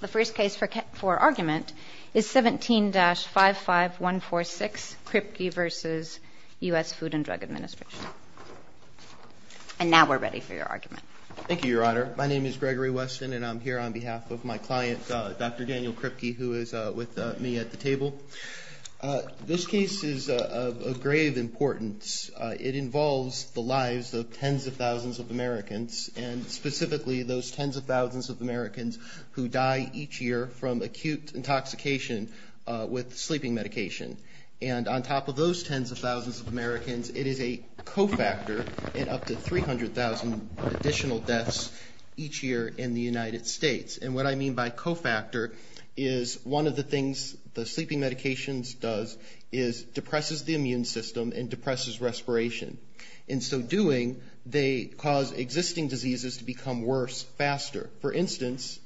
The first case for argument is 17-55146 Kripke v. U.S. Food and Drug Administration. And now we're ready for your argument. Thank you, Your Honor. My name is Gregory Weston, and I'm here on behalf of my client, Dr. Daniel Kripke, who is with me at the table. This case is of grave importance. It involves the lives of tens of thousands of Americans, and specifically those tens of thousands of Americans who die each year from acute intoxication with sleeping medication. And on top of those tens of thousands of Americans, it is a cofactor in up to 300,000 additional deaths each year in the United States. And what I mean by cofactor is one of the things the sleeping medications does is depresses the immune system and depresses respiration. In so doing, they cause existing diseases to become worse faster. For instance,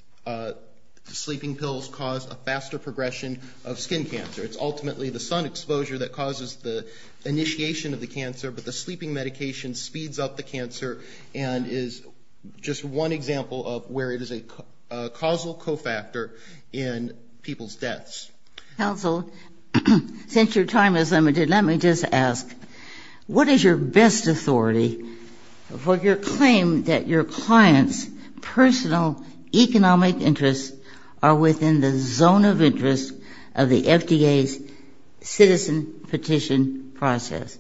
sleeping pills cause a faster progression of skin cancer. It's ultimately the sun exposure that causes the initiation of the cancer, but the sleeping medication speeds up the cancer and is just one example of where it is a causal cofactor in people's deaths. Counsel, since your time is limited, let me just ask, what is your best authority for your claim that your client's personal economic interests are within the zone of interest of the FDA's citizen petition process?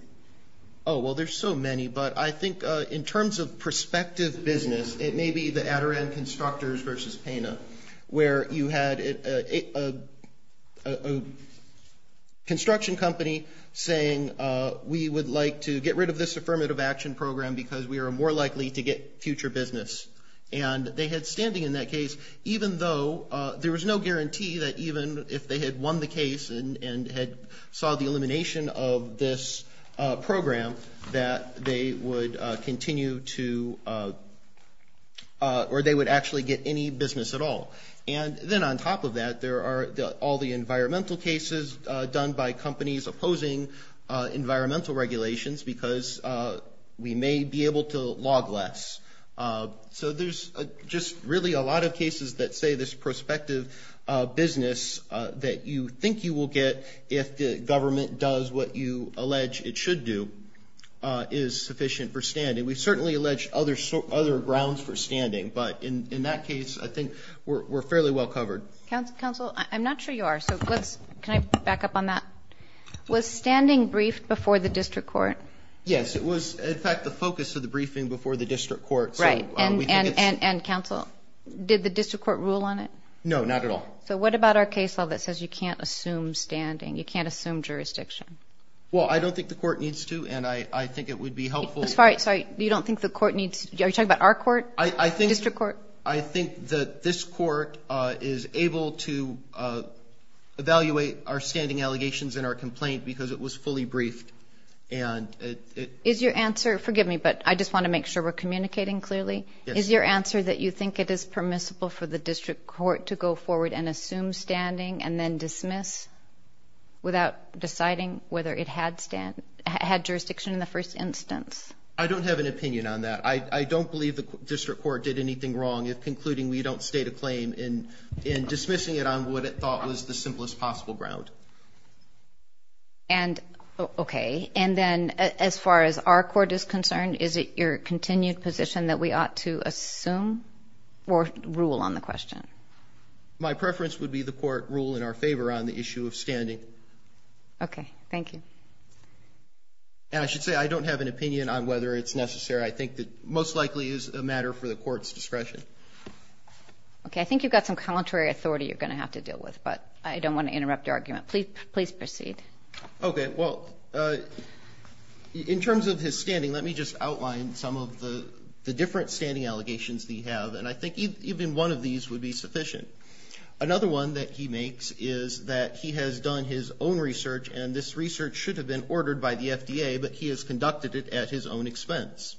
Oh, well, there's so many, but I think in terms of prospective business, it may be the Adirondack Constructors versus Pena, where you had a construction company saying, we would like to get rid of this affirmative action program because we are more likely to get future business. And they had standing in that case, even though there was no guarantee that even if they had won the case and had saw the elimination of this program, that they would continue to or they would actually get any business at all. And then on top of that, there are all the environmental cases done by companies opposing environmental regulations because we may be able to log less. So there's just really a lot of cases that say this prospective business that you think you will get if the government does what you allege it should do is sufficient for standing. We certainly allege other grounds for standing, but in that case, I think we're fairly well covered. Counsel, I'm not sure you are, so can I back up on that? Was standing briefed before the district court? Yes, it was. In fact, the focus of the briefing before the district court. Right. And counsel, did the district court rule on it? No, not at all. So what about our case law that says you can't assume standing, you can't assume jurisdiction? Well, I don't think the court needs to, and I think it would be helpful. Sorry, you don't think the court needs to? Are you talking about our court, district court? I think that this court is able to evaluate our standing allegations in our complaint because it was fully briefed. Is your answer, forgive me, but I just want to make sure we're communicating clearly. Is your answer that you think it is permissible for the district court to go forward and assume standing and then dismiss without deciding whether it had jurisdiction in the first instance? I don't have an opinion on that. I don't believe the district court did anything wrong in concluding we don't state a claim in dismissing it on what it thought was the simplest possible ground. Okay. And then as far as our court is concerned, is it your continued position that we ought to assume or rule on the question? My preference would be the court rule in our favor on the issue of standing. Okay. Thank you. And I should say I don't have an opinion on whether it's necessary. I think it most likely is a matter for the court's discretion. Okay. I think you've got some commentary authority you're going to have to deal with, but I don't want to interrupt your argument. Please proceed. Okay. Well, in terms of his standing, let me just outline some of the different standing allegations that he had, and I think even one of these would be sufficient. Another one that he makes is that he has done his own research, and this research should have been ordered by the FDA, but he has conducted it at his own expense.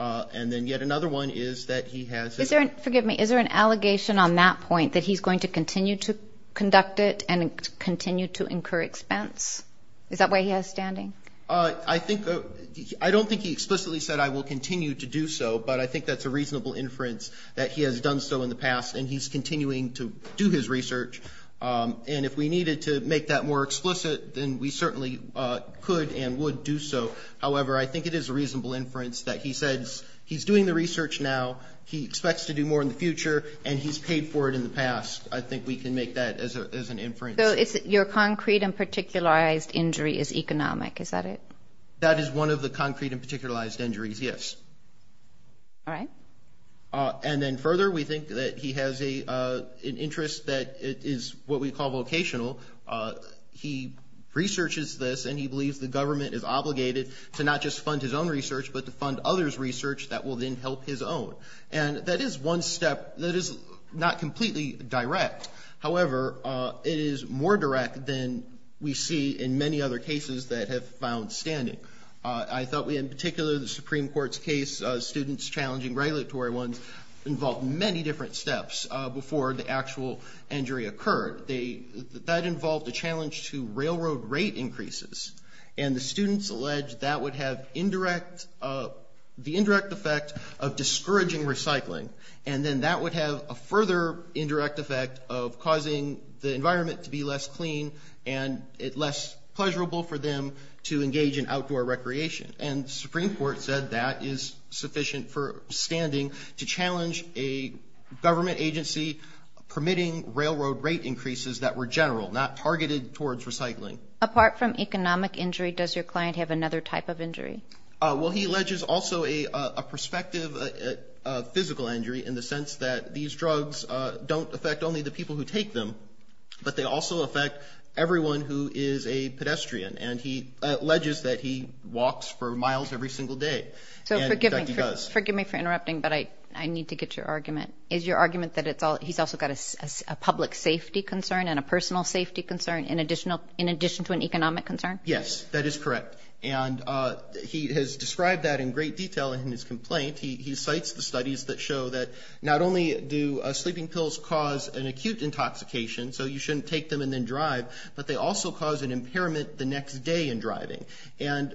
And then yet another one is that he has his own. Forgive me. Is there an allegation on that point that he's going to continue to conduct it and continue to incur expense? Is that why he has standing? I don't think he explicitly said, I will continue to do so, but I think that's a reasonable inference that he has done so in the past and he's continuing to do his research. And if we needed to make that more explicit, then we certainly could and would do so. However, I think it is a reasonable inference that he says he's doing the research now, he expects to do more in the future, and he's paid for it in the past. I think we can make that as an inference. So your concrete and particularized injury is economic, is that it? That is one of the concrete and particularized injuries, yes. All right. And then further, we think that he has an interest that is what we call vocational. He researches this and he believes the government is obligated to not just fund his own research, but to fund others' research that will then help his own. And that is one step that is not completely direct. However, it is more direct than we see in many other cases that have found standing. I thought in particular the Supreme Court's case, students challenging regulatory ones, involved many different steps before the actual injury occurred. That involved a challenge to railroad rate increases, and the students alleged that would have the indirect effect of discouraging recycling, and then that would have a further indirect effect of causing the environment to be less clean and less pleasurable for them to engage in outdoor recreation. And the Supreme Court said that is sufficient for standing to challenge a government agency permitting railroad rate increases that were general, not targeted towards recycling. Apart from economic injury, does your client have another type of injury? Well, he alleges also a prospective physical injury in the sense that these drugs don't affect only the people who take them, but they also affect everyone who is a pedestrian. And he alleges that he walks for miles every single day. So forgive me for interrupting, but I need to get your argument. Is your argument that he's also got a public safety concern and a personal safety concern in addition to an economic concern? Yes, that is correct. And he has described that in great detail in his complaint. He cites the studies that show that not only do sleeping pills cause an acute intoxication, so you shouldn't take them and then drive, but they also cause an impairment the next day in driving. And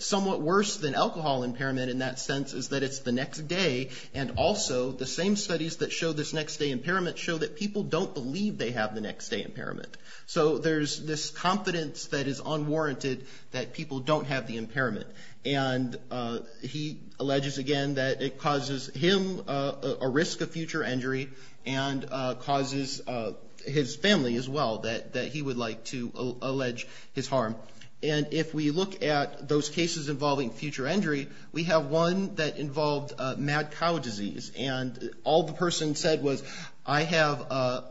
somewhat worse than alcohol impairment in that sense is that it's the next day, and also the same studies that show this next-day impairment show that people don't believe they have the next-day impairment. So there's this confidence that is unwarranted that people don't have the impairment. And he alleges again that it causes him a risk of future injury and causes his family as well that he would like to allege his harm. And if we look at those cases involving future injury, we have one that involved mad cow disease. And all the person said was, I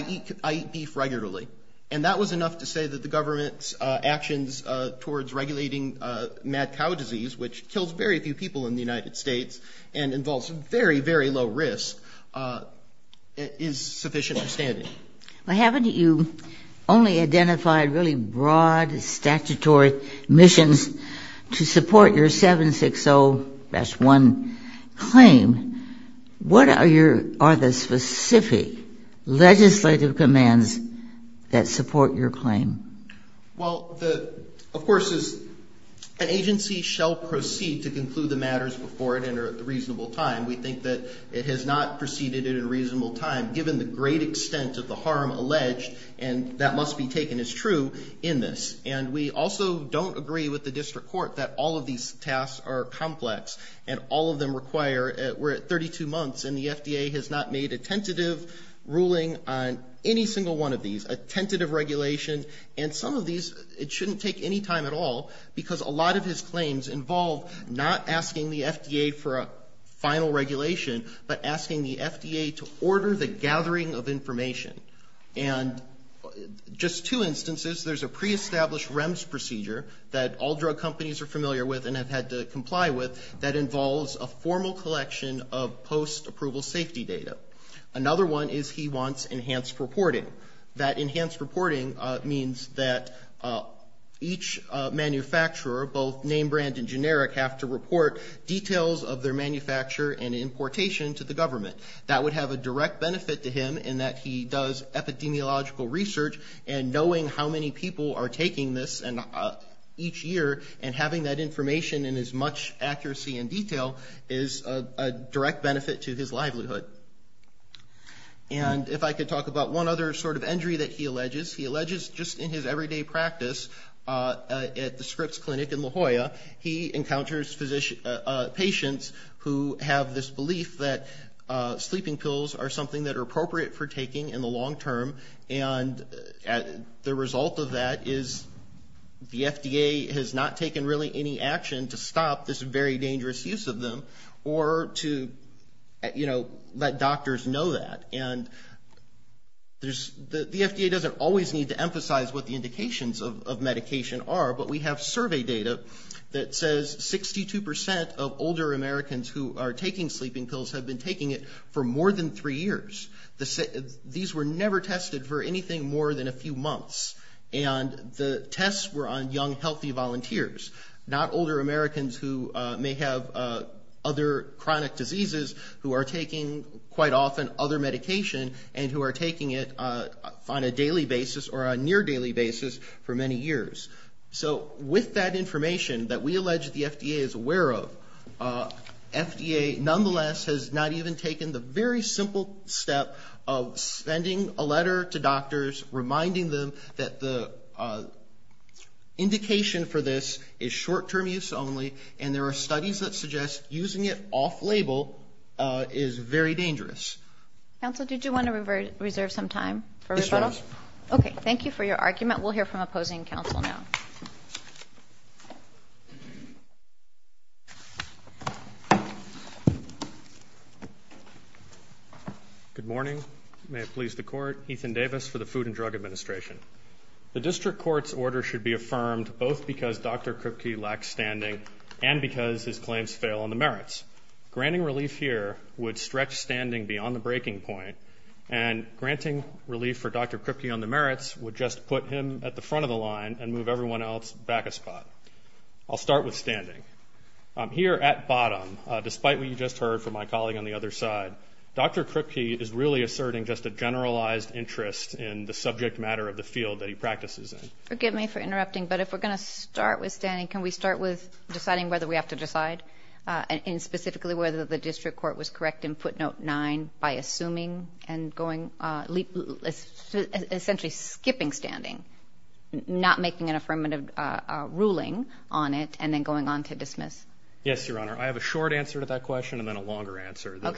eat beef regularly. And that was enough to say that the government's actions towards regulating mad cow disease, which kills very few people in the United States and involves very, very low risk, is sufficient for standing. Well, haven't you only identified really broad statutory missions to support your 760-1 claim? What are the specific legislative commands that support your claim? Well, of course, an agency shall proceed to conclude the matters before it entered at a reasonable time. We think that it has not proceeded at a reasonable time, given the great extent of the harm alleged, and that must be taken as true, in this. And we also don't agree with the district court that all of these tasks are complex and all of them require, we're at 32 months, and the FDA has not made a tentative ruling on any single one of these, a tentative regulation. And some of these, it shouldn't take any time at all, because a lot of his claims involve not asking the FDA for a final regulation, but asking the FDA to order the gathering of information. And just two instances, there's a pre-established REMS procedure that all drug companies are familiar with and have had to comply with that involves a formal collection of post-approval safety data. Another one is he wants enhanced reporting. That enhanced reporting means that each manufacturer, both name brand and generic, have to report details of their manufacture and importation to the government. That would have a direct benefit to him in that he does epidemiological research, and knowing how many people are taking this each year and having that information in as much accuracy and detail is a direct benefit to his livelihood. And if I could talk about one other sort of injury that he alleges, he alleges just in his everyday practice at the Scripps Clinic in La Jolla, he encounters patients who have this belief that sleeping pills are something that are appropriate for taking in the long term and the result of that is the FDA has not taken really any action to stop this very dangerous use of them or to, you know, let doctors know that. And the FDA doesn't always need to emphasize what the indications of medication are, but we have survey data that says 62 percent of older Americans who are taking sleeping pills have been taking it for more than three years. These were never tested for anything more than a few months, and the tests were on young healthy volunteers, not older Americans who may have other chronic diseases who are taking quite often other medication and who are taking it on a daily basis or a near daily basis for many years. So with that information that we allege the FDA is aware of, FDA nonetheless has not even taken the very simple step of sending a letter to doctors reminding them that the indication for this is short-term use only and there are studies that suggest using it off-label is very dangerous. Counsel, did you want to reserve some time for rebuttal? Yes, ma'am. Okay. Thank you for your argument. We'll hear from opposing counsel now. Good morning. May it please the Court. Ethan Davis for the Food and Drug Administration. The district court's order should be affirmed both because Dr. Kripke lacks standing and because his claims fail on the merits. Granting relief here would stretch standing beyond the breaking point, and granting relief for Dr. Kripke on the merits would just put him at the front of the line and move everyone else back a spot. I'll start with standing. Here at bottom, despite what you just heard from my colleague on the other side, Dr. Kripke is really asserting just a generalized interest in the subject matter of the field that he practices in. Forgive me for interrupting, but if we're going to start with standing, can we start with deciding whether we have to decide, and specifically whether the district court was correct in footnote 9 by assuming and essentially skipping standing, not making an affirmative ruling on it, and then going on to dismiss? Yes, Your Honor. I have a short answer to that question and then a longer answer. The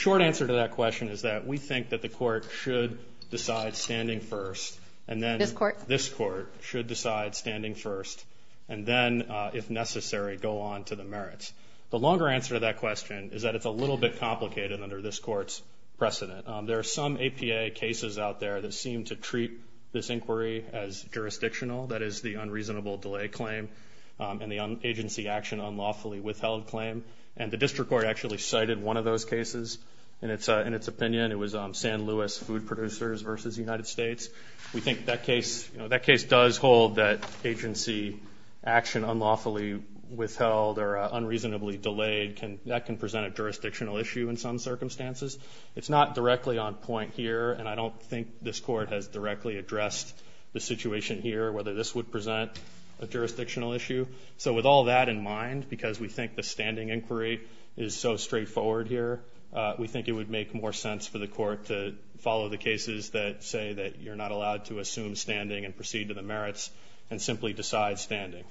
short answer to that question is that we think that the court should decide standing first. This court? This court should decide standing first and then, if necessary, go on to the merits. The longer answer to that question is that it's a little bit complicated under this court's precedent. There are some APA cases out there that seem to treat this inquiry as jurisdictional, that is the unreasonable delay claim and the agency action unlawfully withheld claim, and the district court actually cited one of those cases in its opinion. It was San Luis food producers versus the United States. We think that case does hold that agency action unlawfully withheld or unreasonably delayed can present a jurisdictional issue in some circumstances. It's not directly on point here, and I don't think this court has directly addressed the situation here, whether this would present a jurisdictional issue. So with all that in mind, because we think the standing inquiry is so straightforward here, we think it would make more sense for the court to follow the cases that say that you're not allowed to assume standing and proceed to the merits and simply decide standing.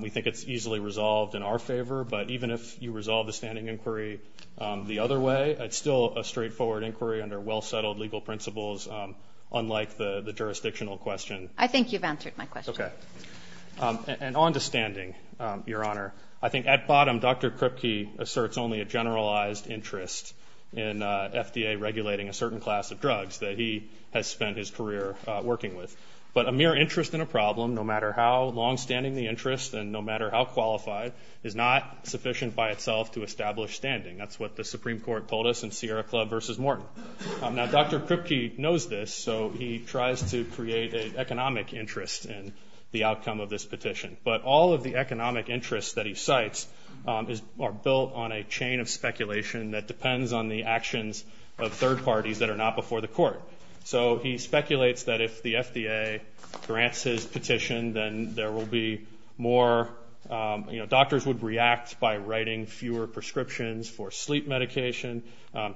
We think it's easily resolved in our favor, but even if you resolve the standing inquiry the other way, it's still a straightforward inquiry under well-settled legal principles, unlike the jurisdictional question. I think you've answered my question. Okay. And on to standing, Your Honor. I think at bottom, Dr. Kripke asserts only a generalized interest in FDA regulating a certain class of drugs that he has spent his career working with. But a mere interest in a problem, no matter how longstanding the interest and no matter how qualified, is not sufficient by itself to establish standing. That's what the Supreme Court told us in Sierra Club versus Morton. Now, Dr. Kripke knows this, so he tries to create an economic interest in the outcome of this petition. But all of the economic interests that he cites are built on a chain of speculation that depends on the actions of third parties that are not before the court. So he speculates that if the FDA grants his petition, then there will be more, you know, doctors would react by writing fewer prescriptions for sleep medication.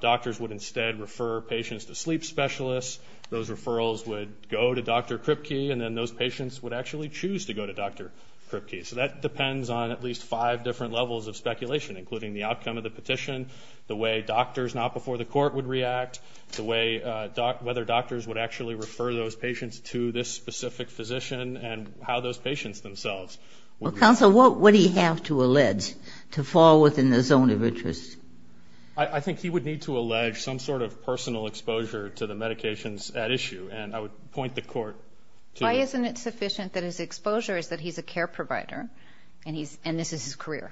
Doctors would instead refer patients to sleep specialists. Those referrals would go to Dr. Kripke, and then those patients would actually choose to go to Dr. Kripke. So that depends on at least five different levels of speculation, including the outcome of the petition, the way doctors not before the court would react, the way whether doctors would actually refer those patients to this specific physician and how those patients themselves would react. Well, counsel, what would he have to allege to fall within the zone of interest? I think he would need to allege some sort of personal exposure to the medications at issue, and I would point the court to that. Why isn't it sufficient that his exposure is that he's a care provider and this is his career?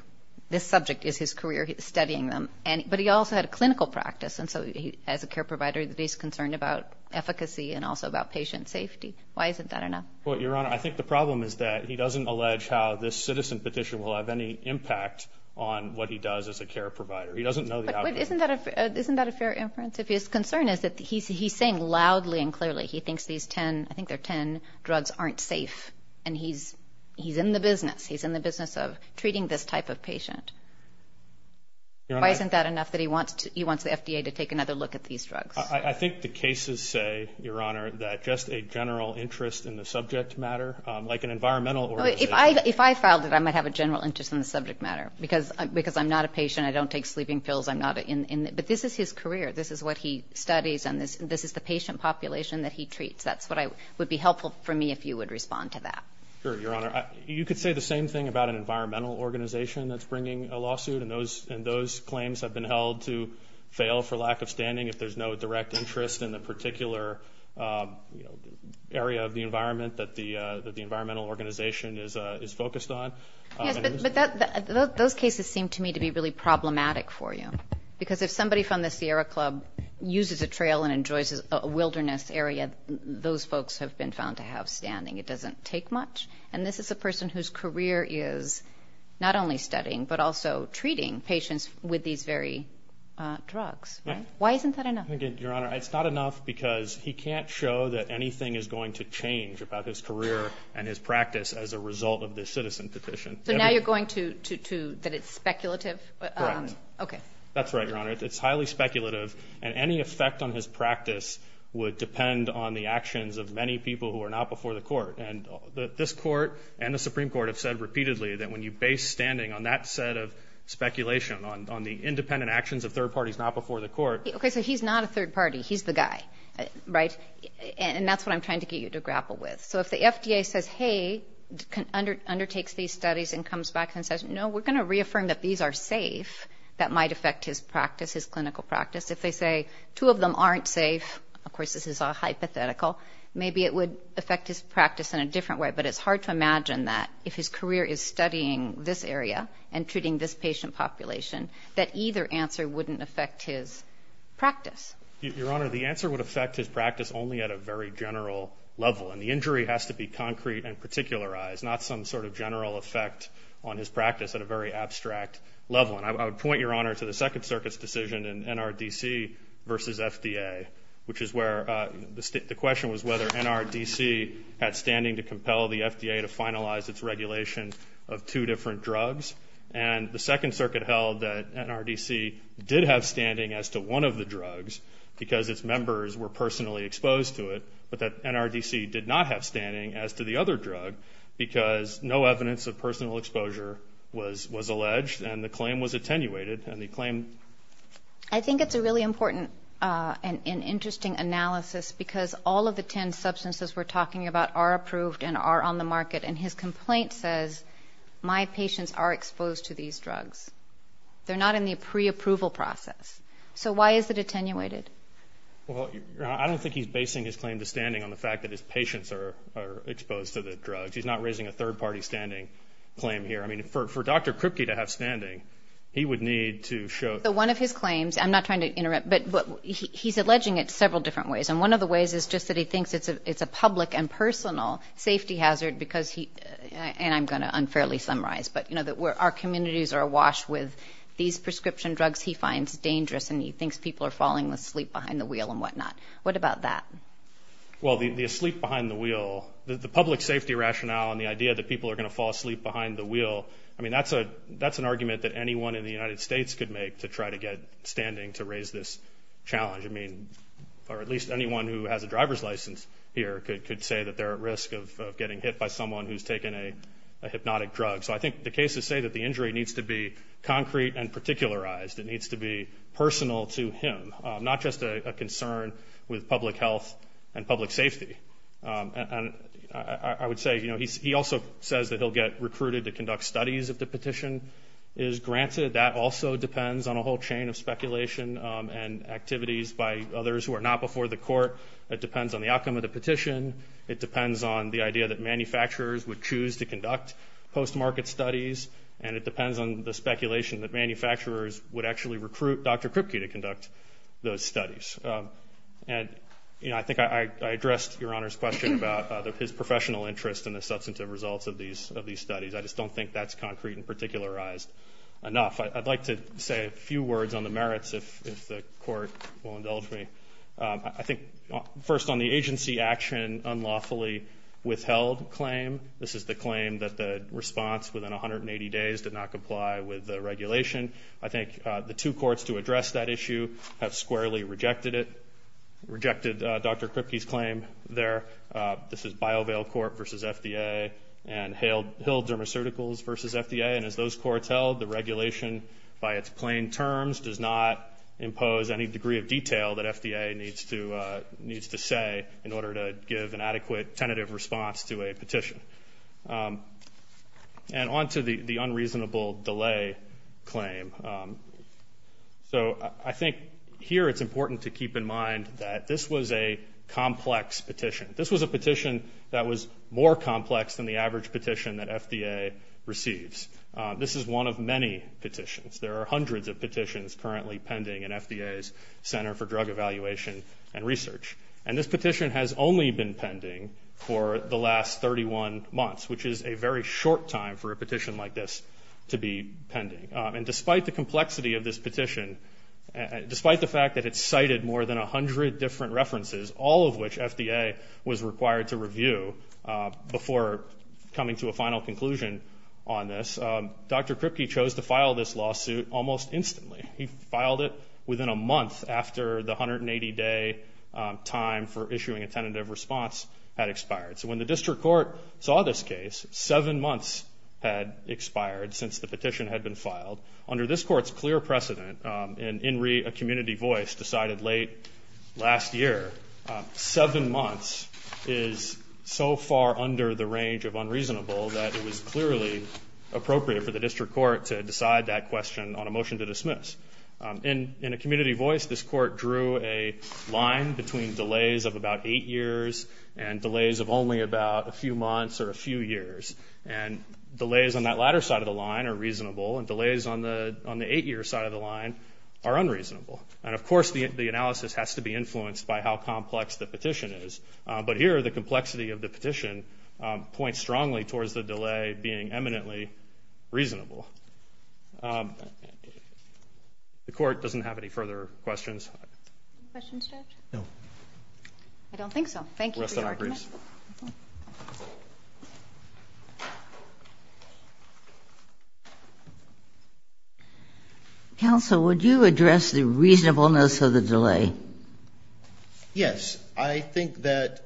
This subject is his career, studying them. But he also had a clinical practice, and so as a care provider, he's concerned about efficacy and also about patient safety. Why isn't that enough? Well, Your Honor, I think the problem is that he doesn't allege how this citizen petition will have any impact on what he does as a care provider. He doesn't know the outcome. But isn't that a fair inference? If his concern is that he's saying loudly and clearly he thinks these 10, I think they're 10, drugs aren't safe, and he's in the business. He's in the business of treating this type of patient. Why isn't that enough that he wants the FDA to take another look at these drugs? I think the cases say, Your Honor, that just a general interest in the subject matter, like an environmental organization. If I filed it, I might have a general interest in the subject matter because I'm not a patient. I don't take sleeping pills. I'm not in it. But this is his career. This is what he studies, and this is the patient population that he treats. That's what would be helpful for me if you would respond to that. Sure, Your Honor. You could say the same thing about an environmental organization that's bringing a lawsuit, and those claims have been held to fail for lack of standing if there's no direct interest in the particular area of the environment that the environmental organization is focused on. Yes, but those cases seem to me to be really problematic for you, because if somebody from the Sierra Club uses a trail and enjoys a wilderness area, those folks have been found to have standing. It doesn't take much, and this is a person whose career is not only studying but also treating patients with these very drugs. Why isn't that enough? Your Honor, it's not enough because he can't show that anything is going to change about his career and his practice as a result of this citizen petition. So now you're going to that it's speculative? Correct. Okay. That's right, Your Honor. It's highly speculative, and any effect on his practice would depend on the actions of many people who are not before the court, and this court and the Supreme Court have said repeatedly that when you base standing on that set of speculation, on the independent actions of third parties not before the court. Okay, so he's not a third party. He's the guy, right? And that's what I'm trying to get you to grapple with. So if the FDA says, hey, undertakes these studies and comes back and says, no, we're going to reaffirm that these are safe, that might affect his practice, his clinical practice. If they say two of them aren't safe, of course this is all hypothetical, maybe it would affect his practice in a different way, but it's hard to imagine that if his career is studying this area and treating this patient population, that either answer wouldn't affect his practice. Your Honor, the answer would affect his practice only at a very general level, and the injury has to be concrete and particularized, not some sort of general effect on his practice at a very abstract level. And I would point, Your Honor, to the Second Circuit's decision in NRDC versus FDA, which is where the question was whether NRDC had standing to compel the FDA to finalize its regulation of two different drugs. And the Second Circuit held that NRDC did have standing as to one of the drugs because its members were personally exposed to it, but that NRDC did not have standing as to the other drug because no evidence of personal exposure was alleged and the claim was attenuated. I think it's a really important and interesting analysis because all of the ten substances we're talking about are approved and are on the market, and his complaint says, my patients are exposed to these drugs. They're not in the preapproval process. So why is it attenuated? Well, Your Honor, I don't think he's basing his claim to standing on the fact that his patients are exposed to the drugs. He's not raising a third-party standing claim here. I mean, for Dr. Kripke to have standing, he would need to show that. So one of his claims, I'm not trying to interrupt, but he's alleging it several different ways, and one of the ways is just that he thinks it's a public and personal safety hazard because he, and I'm going to unfairly summarize, but our communities are awash with these prescription drugs he finds dangerous, and he thinks people are falling asleep behind the wheel and whatnot. What about that? Well, the asleep behind the wheel, the public safety rationale and the idea that people are going to fall asleep behind the wheel, I mean, that's an argument that anyone in the United States could make to try to get standing to raise this challenge. I mean, or at least anyone who has a driver's license here could say that they're at risk of getting hit by someone who's taken a hypnotic drug. So I think the cases say that the injury needs to be concrete and particularized. It needs to be personal to him, not just a concern with public health and public safety. And I would say, you know, he also says that he'll get recruited to conduct studies if the petition is granted. That also depends on a whole chain of speculation and activities by others who are not before the court. It depends on the outcome of the petition. It depends on the idea that manufacturers would choose to conduct post-market studies, and it depends on the speculation that manufacturers would actually recruit Dr. Kripke to conduct those studies. And, you know, I think I addressed Your Honor's question about his professional interest in the substantive results of these studies. I just don't think that's concrete and particularized enough. I'd like to say a few words on the merits if the Court will indulge me. I think first on the agency action unlawfully withheld claim, this is the claim that the response within 180 days did not comply with the regulation. I think the two courts to address that issue have squarely rejected it, rejected Dr. Kripke's claim there. This is BioVail Court versus FDA and Hill Dermacerticals versus FDA. And as those courts held, the regulation by its plain terms does not impose any degree of detail that FDA needs to say in order to give an adequate tentative response to a petition. And on to the unreasonable delay claim. So I think here it's important to keep in mind that this was a complex petition. This was a petition that was more complex than the average petition that FDA receives. This is one of many petitions. There are hundreds of petitions currently pending in FDA's Center for Drug Evaluation and Research. And this petition has only been pending for the last 31 months, which is a very short time for a petition like this to be pending. And despite the complexity of this petition, despite the fact that it's cited more than 100 different references, all of which FDA was required to review before coming to a final conclusion on this, Dr. Kripke chose to file this lawsuit almost instantly. He filed it within a month after the 180-day time for issuing a tentative response had expired. So when the district court saw this case, seven months had expired since the petition had been filed. Under this court's clear precedent, in a community voice decided late last year, seven months is so far under the range of unreasonable that it was clearly appropriate for the district court to decide that question on a motion to dismiss. In a community voice, this court drew a line between delays of about eight years and delays of only about a few months or a few years. And delays on that latter side of the line are reasonable, and delays on the eight-year side of the line are unreasonable. And, of course, the analysis has to be influenced by how complex the petition is. But here, the complexity of the petition points strongly towards the delay being eminently reasonable. The court doesn't have any further questions. Questions, Judge? No. I don't think so. Thank you for your argument. Questions? Counsel, would you address the reasonableness of the delay? Yes. I think that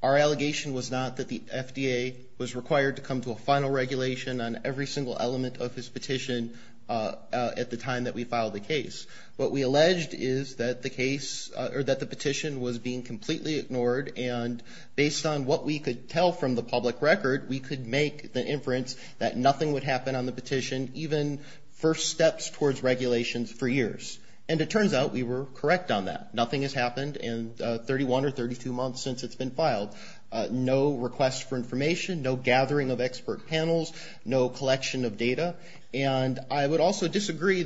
our allegation was not that the FDA was required to come to a final regulation on every single element of his petition at the time that we filed the case. What we alleged is that the case or that the petition was being completely ignored, and based on what we could tell from the public record, we could make the inference that nothing would happen on the petition, even first steps towards regulations for years. And it turns out we were correct on that. Nothing has happened in 31 or 32 months since it's been filed. No request for information, no gathering of expert panels, no collection of data. And I would also disagree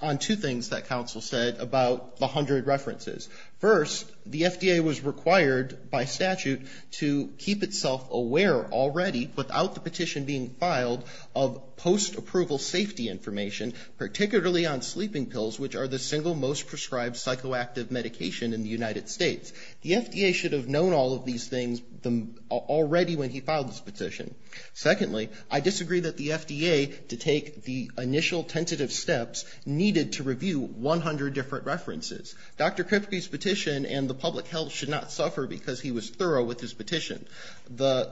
on two things that counsel said about the 100 references. First, the FDA was required by statute to keep itself aware already, without the petition being filed, of post-approval safety information, particularly on sleeping pills, which are the single most prescribed psychoactive medication in the United States. The FDA should have known all of these things already when he filed this petition. Secondly, I disagree that the FDA, to take the initial tentative steps, needed to review 100 different references. Dr. Kripke's petition and the public health should not suffer because he was thorough with his petition.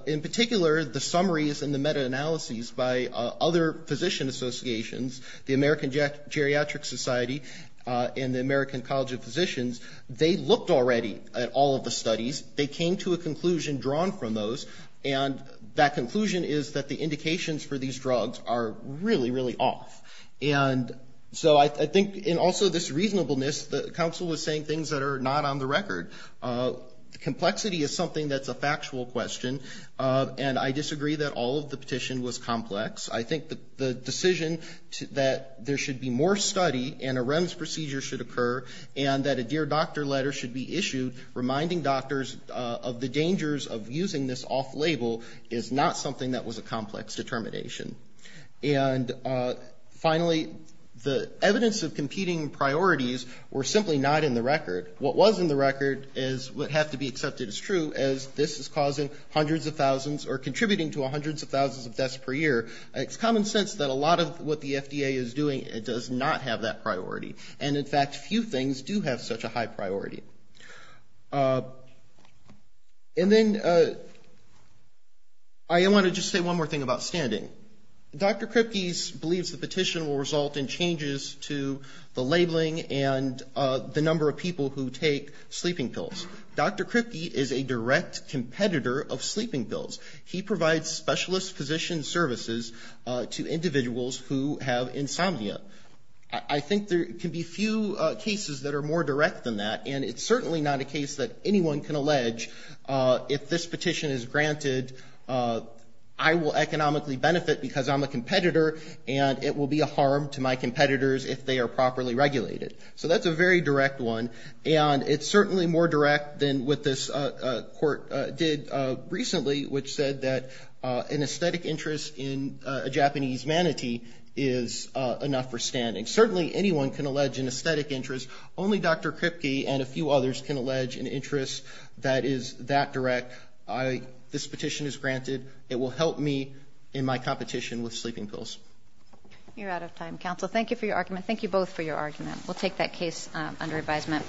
In particular, the summaries and the meta-analyses by other physician associations, the American Geriatric Society and the American College of Physicians, they looked already at all of the studies. They came to a conclusion drawn from those, and that conclusion is that the indications for these drugs are really, really off. And so I think, and also this reasonableness, the counsel was saying things that are not on the record. Complexity is something that's a factual question, and I disagree that all of the petition was complex. I think the decision that there should be more study and a REMS procedure should occur, and that a dear doctor letter should be issued reminding doctors of the dangers of using this off-label, is not something that was a complex determination. And finally, the evidence of competing priorities were simply not in the record. What was in the record would have to be accepted as true, as this is causing hundreds of thousands or contributing to hundreds of thousands of deaths per year. It's common sense that a lot of what the FDA is doing does not have that priority. And, in fact, few things do have such a high priority. And then I want to just say one more thing about standing. Dr. Kripke believes the petition will result in changes to the labeling and the number of people who take sleeping pills. Dr. Kripke is a direct competitor of sleeping pills. He provides specialist physician services to individuals who have insomnia. I think there can be few cases that are more direct than that, and it's certainly not a case that anyone can allege if this petition is granted, I will economically benefit because I'm a competitor and it will be a harm to my competitors if they are properly regulated. So that's a very direct one, and it's certainly more direct than what this court did recently, which said that an aesthetic interest in a Japanese manatee is enough for standing. Certainly anyone can allege an aesthetic interest. Only Dr. Kripke and a few others can allege an interest that is that direct. This petition is granted. It will help me in my competition with sleeping pills. You're out of time. Counsel, thank you for your argument. Thank you both for your argument. We'll take that case under advisement.